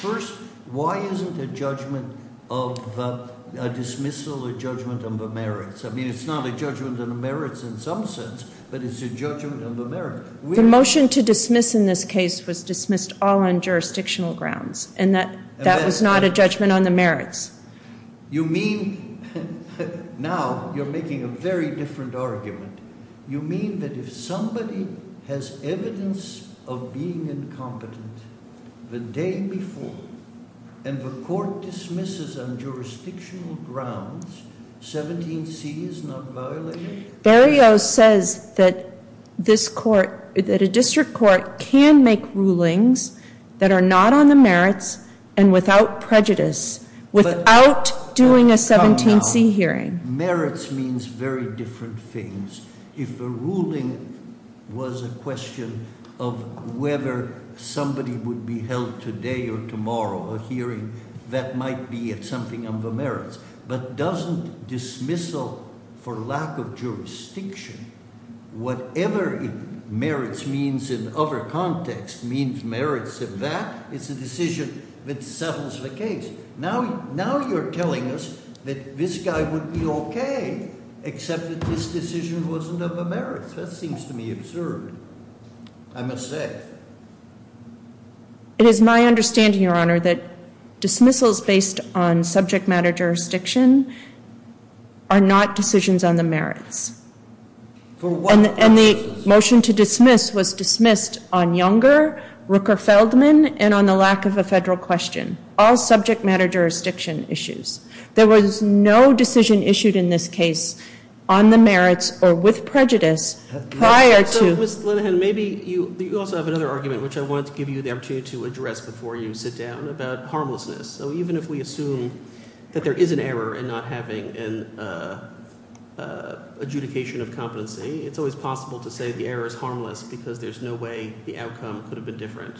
First, why isn't a judgment of a dismissal a judgment on the merits? I mean, it's not a judgment on the merits in some sense, but it's a judgment on the merits. The motion to dismiss in this case was dismissed all on jurisdictional grounds, and that was not a judgment on the merits. You mean—now you're making a very different argument. You mean that if somebody has evidence of being incompetent the day before and the court dismisses on jurisdictional grounds, 17C is not violated? I mean, Berrio says that a district court can make rulings that are not on the merits and without prejudice, without doing a 17C hearing. Merits means very different things. If a ruling was a question of whether somebody would be held today or tomorrow, a hearing, that might be something on the merits. But doesn't dismissal for lack of jurisdiction, whatever merits means in other contexts means merits in that, it's a decision that settles the case. Now you're telling us that this guy would be okay, except that this decision wasn't on the merits. That seems to me absurd, I must say. It is my understanding, Your Honor, that dismissals based on subject matter jurisdiction are not decisions on the merits. And the motion to dismiss was dismissed on Younger, Rooker-Feldman, and on the lack of a federal question, all subject matter jurisdiction issues. There was no decision issued in this case on the merits or with prejudice prior to— Ms. Linehan, maybe you also have another argument, which I wanted to give you the opportunity to address before you sit down, about harmlessness. So even if we assume that there is an error in not having an adjudication of competency, it's always possible to say the error is harmless because there's no way the outcome could have been different.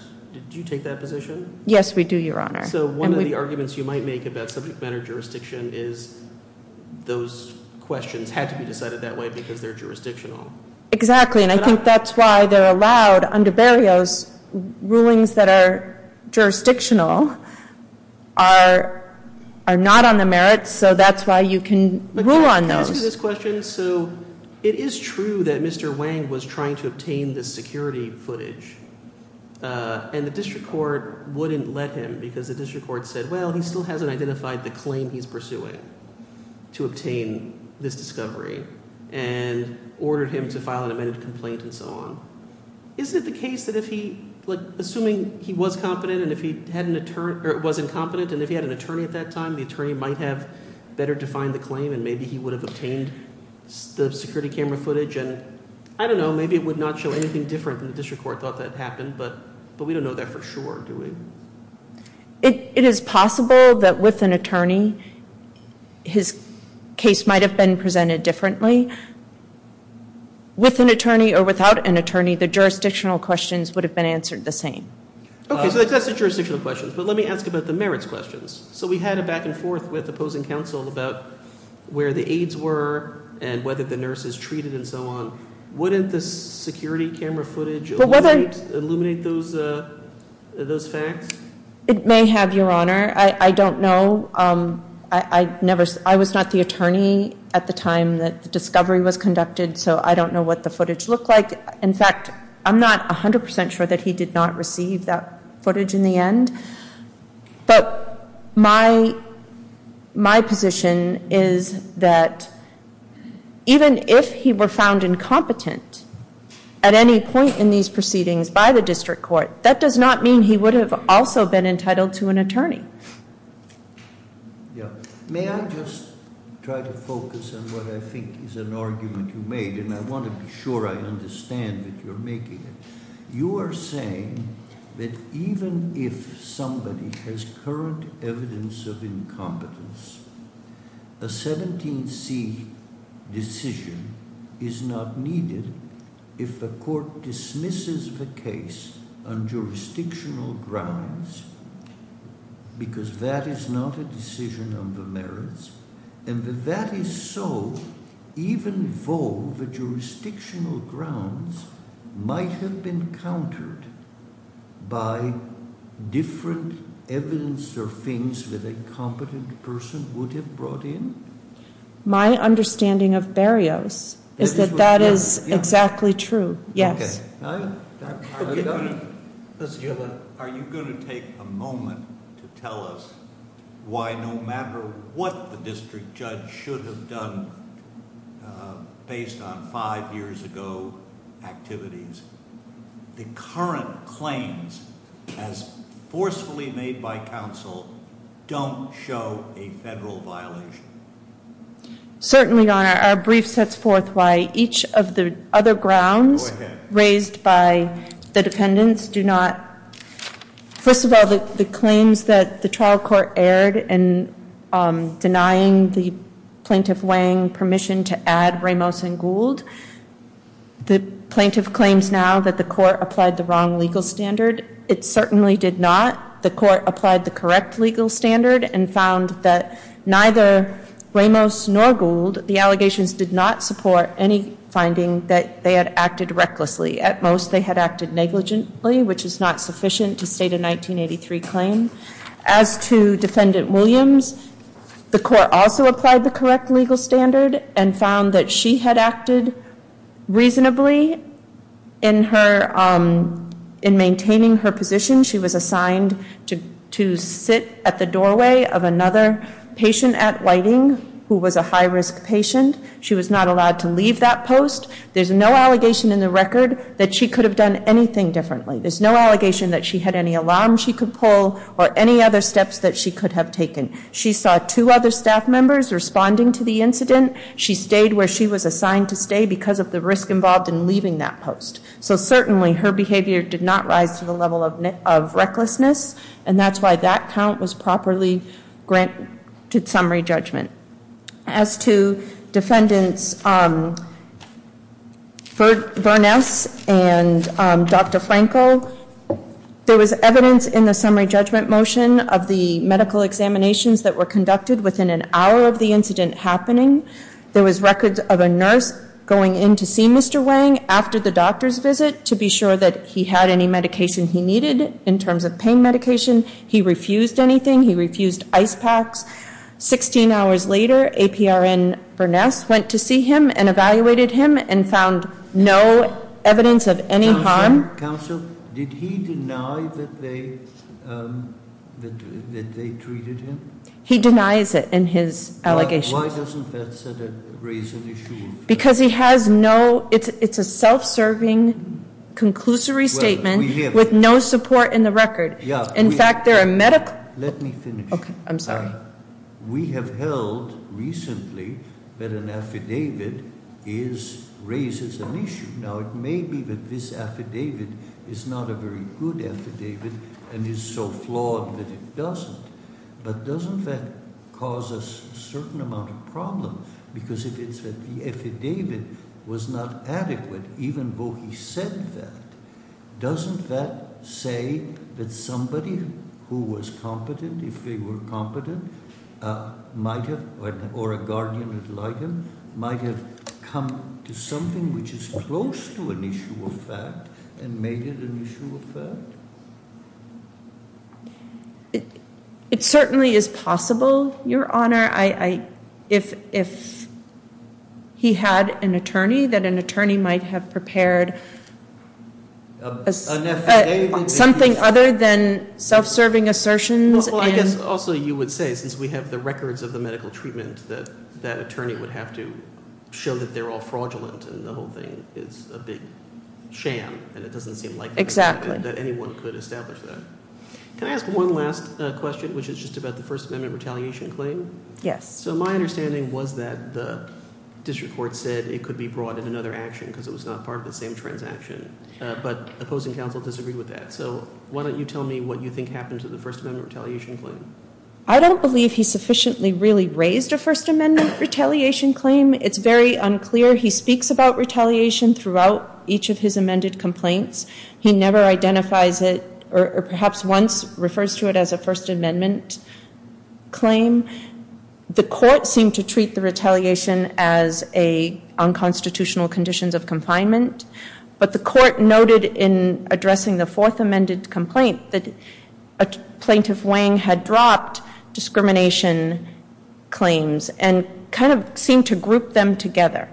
Do you take that position? Yes, we do, Your Honor. So one of the arguments you might make about subject matter jurisdiction is those questions had to be decided that way because they're jurisdictional. Exactly, and I think that's why they're allowed under Barrios. Rulings that are jurisdictional are not on the merits, so that's why you can rule on those. Can I ask you this question? So it is true that Mr. Wang was trying to obtain this security footage, and the district court wouldn't let him because the district court said, well, he still hasn't identified the claim he's pursuing to obtain this discovery and ordered him to file an amended complaint and so on. Isn't it the case that if he, like, assuming he was competent and if he had an attorney or wasn't competent and if he had an attorney at that time, the attorney might have better defined the claim and maybe he would have obtained the security camera footage? And I don't know, maybe it would not show anything different than the district court thought that happened, but we don't know that for sure, do we? It is possible that with an attorney his case might have been presented differently. With an attorney or without an attorney, the jurisdictional questions would have been answered the same. Okay, so that's the jurisdictional questions, but let me ask about the merits questions. So we had a back and forth with opposing counsel about where the aides were and whether the nurse is treated and so on. Wouldn't the security camera footage illuminate those facts? It may have, Your Honor. I don't know. I was not the attorney at the time that the discovery was conducted, so I don't know what the footage looked like. In fact, I'm not 100% sure that he did not receive that footage in the end. But my position is that even if he were found incompetent at any point in these proceedings by the district court, that does not mean he would have also been entitled to an attorney. May I just try to focus on what I think is an argument you made, and I want to be sure I understand that you're making it. You are saying that even if somebody has current evidence of incompetence, a 17C decision is not needed if the court dismisses the case on jurisdictional grounds because that is not a decision on the merits, and that that is so even though the jurisdictional grounds might have been countered by different evidence or things that a competent person would have brought in? My understanding of barriers is that that is exactly true, yes. Okay. Are you going to take a moment to tell us why no matter what the district judge should have done based on five years ago activities, the current claims as forcefully made by counsel don't show a federal violation? Certainly, Your Honor. Your Honor, our brief sets forth why each of the other grounds raised by the defendants do not. First of all, the claims that the trial court aired in denying the plaintiff Wang permission to add Ramos and Gould, the plaintiff claims now that the court applied the wrong legal standard. It certainly did not. The court applied the correct legal standard and found that neither Ramos nor Gould, the allegations did not support any finding that they had acted recklessly. At most, they had acted negligently, which is not sufficient to state a 1983 claim. As to Defendant Williams, the court also applied the correct legal standard and found that she had acted reasonably in maintaining her position. She was assigned to sit at the doorway of another patient at Whiting who was a high-risk patient. She was not allowed to leave that post. There's no allegation in the record that she could have done anything differently. There's no allegation that she had any alarm she could pull or any other steps that she could have taken. She saw two other staff members responding to the incident. She stayed where she was assigned to stay because of the risk involved in leaving that post. So certainly her behavior did not rise to the level of recklessness, and that's why that count was properly granted summary judgment. As to Defendants Burness and Dr. Franco, there was evidence in the summary judgment motion of the medical examinations that were conducted within an hour of the incident happening. There was records of a nurse going in to see Mr. Wang after the doctor's visit to be sure that he had any medication he needed in terms of pain medication. He refused anything. He refused ice packs. Sixteen hours later, APRN Burness went to see him and evaluated him and found no evidence of any harm. Counsel, did he deny that they treated him? He denies it in his allegations. Why doesn't that raise an issue? Because he has no, it's a self-serving conclusory statement with no support in the record. In fact, there are medical- Let me finish. Okay, I'm sorry. We have held recently that an affidavit raises an issue. Now, it may be that this affidavit is not a very good affidavit and is so flawed that it doesn't, but doesn't that cause a certain amount of problem? Because if the affidavit was not adequate, even though he said that, doesn't that say that somebody who was competent, if they were competent, might have, or a guardian like him, might have come to something which is close to an issue of fact and made it an issue of fact? It certainly is possible, Your Honor. If he had an attorney, that an attorney might have prepared- An affidavit- Something other than self-serving assertions and- Well, I guess also you would say, since we have the records of the medical treatment, that that attorney would have to show that they're all fraudulent and the whole thing is a big sham and it doesn't seem likely- Exactly. That anyone could establish that. Can I ask one last question, which is just about the First Amendment retaliation claim? Yes. So my understanding was that the district court said it could be brought in another action because it was not part of the same transaction, but opposing counsel disagreed with that. So why don't you tell me what you think happened to the First Amendment retaliation claim? I don't believe he sufficiently really raised a First Amendment retaliation claim. It's very unclear. He speaks about retaliation throughout each of his amended complaints. He never identifies it or perhaps once refers to it as a First Amendment claim. The court seemed to treat the retaliation as unconstitutional conditions of confinement, but the court noted in addressing the fourth amended complaint that a plaintiff weighing had dropped discrimination claims and kind of seemed to group them together.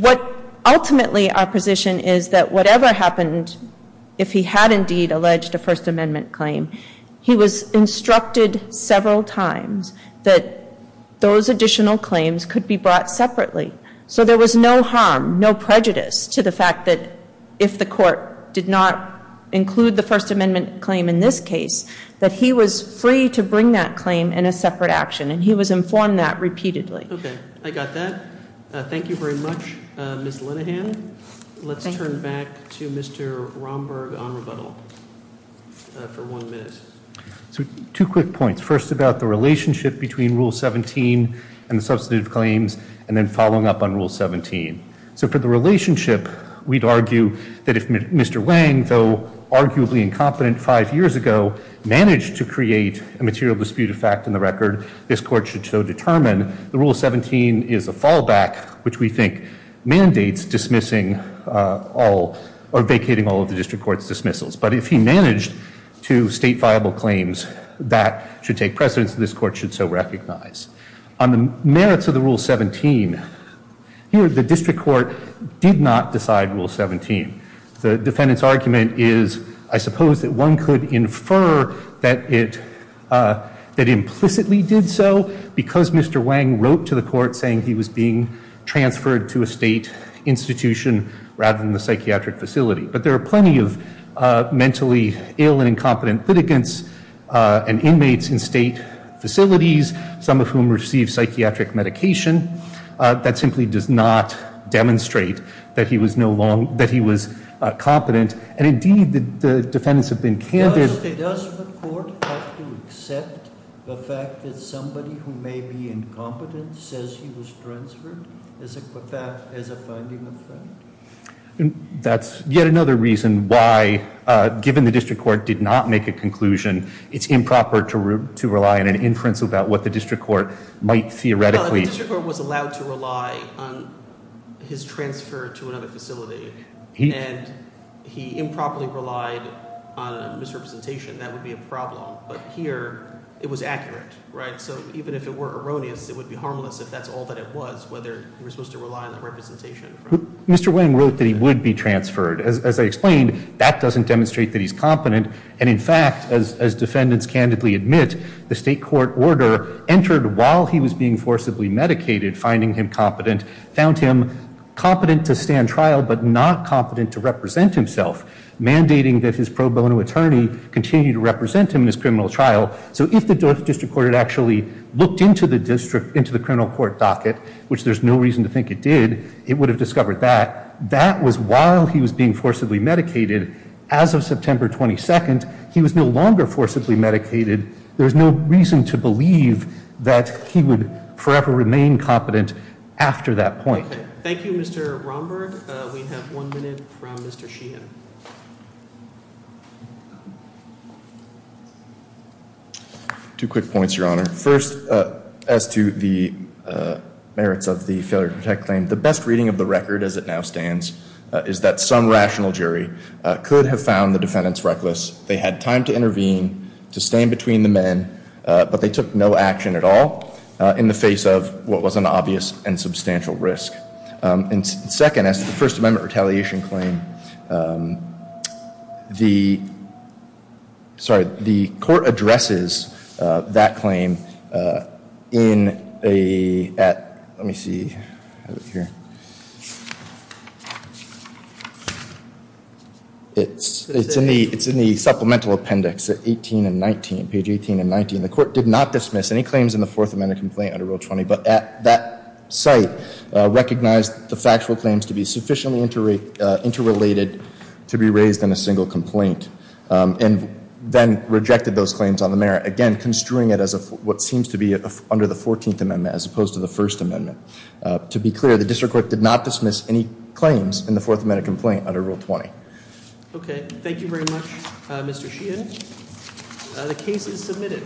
What ultimately our position is that whatever happened, if he had indeed alleged a First Amendment claim, he was instructed several times that those additional claims could be brought separately. So there was no harm, no prejudice to the fact that if the court did not include the First Amendment claim in this case, that he was free to bring that claim in a separate action and he was informed that repeatedly. Okay. I got that. Thank you very much, Ms. Linehan. Let's turn back to Mr. Romberg on rebuttal for one minute. Two quick points. First, about the relationship between Rule 17 and the substantive claims and then following up on Rule 17. So for the relationship, we'd argue that if Mr. Wang, though arguably incompetent five years ago, managed to create a material dispute of fact in the record, this court should so determine the Rule 17 is a fallback, which we think mandates dismissing all or vacating all of the district court's dismissals. But if he managed to state viable claims, that should take precedence and this court should so recognize. On the merits of the Rule 17, here the district court did not decide Rule 17. The defendant's argument is, I suppose, that one could infer that it implicitly did so because Mr. Wang wrote to the court saying he was being transferred to a state institution rather than the psychiatric facility. But there are plenty of mentally ill and incompetent litigants and inmates in state facilities, some of whom receive psychiatric medication. That simply does not demonstrate that he was competent. And indeed, the defendants have been candid. Does the court have to accept the fact that somebody who may be incompetent says he was transferred as a finding of fact? That's yet another reason why, given the district court did not make a conclusion, it's improper to rely on an inference about what the district court might theoretically Well, if the district court was allowed to rely on his transfer to another facility and he improperly relied on a misrepresentation, that would be a problem. But here it was accurate, right? So even if it were erroneous, it would be harmless if that's all that it was, whether he was supposed to rely on the representation. Mr. Wang wrote that he would be transferred. As I explained, that doesn't demonstrate that he's competent. And in fact, as defendants candidly admit, the state court order entered while he was being forcibly medicated, finding him competent, found him competent to stand trial but not competent to represent himself, mandating that his pro bono attorney continue to represent him in his criminal trial. So if the district court had actually looked into the district, into the criminal court docket, which there's no reason to think it did, it would have discovered that. That was while he was being forcibly medicated. As of September 22nd, he was no longer forcibly medicated. There's no reason to believe that he would forever remain competent after that point. Thank you, Mr. Romberg. We have one minute from Mr. Sheehan. Two quick points, Your Honor. First, as to the merits of the failure to protect claim, the best reading of the record, as it now stands, is that some rational jury could have found the defendants reckless. They had time to intervene, to stand between the men, but they took no action at all in the face of what was an obvious and substantial risk. And second, as to the First Amendment retaliation claim, the court addresses that claim in a supplemental appendix at page 18 and 19. The court did not dismiss any claims in the Fourth Amendment complaint under Rule 20, but at that site recognized the factual claims to be sufficiently interrelated to be raised in a single complaint and then rejected those claims on the merit, again construing it as what seems to be under the Fourteenth Amendment as opposed to the First Amendment. To be clear, the district court did not dismiss any claims in the Fourth Amendment complaint under Rule 20. Okay. Thank you very much, Mr. Sheehan. The case is submitted.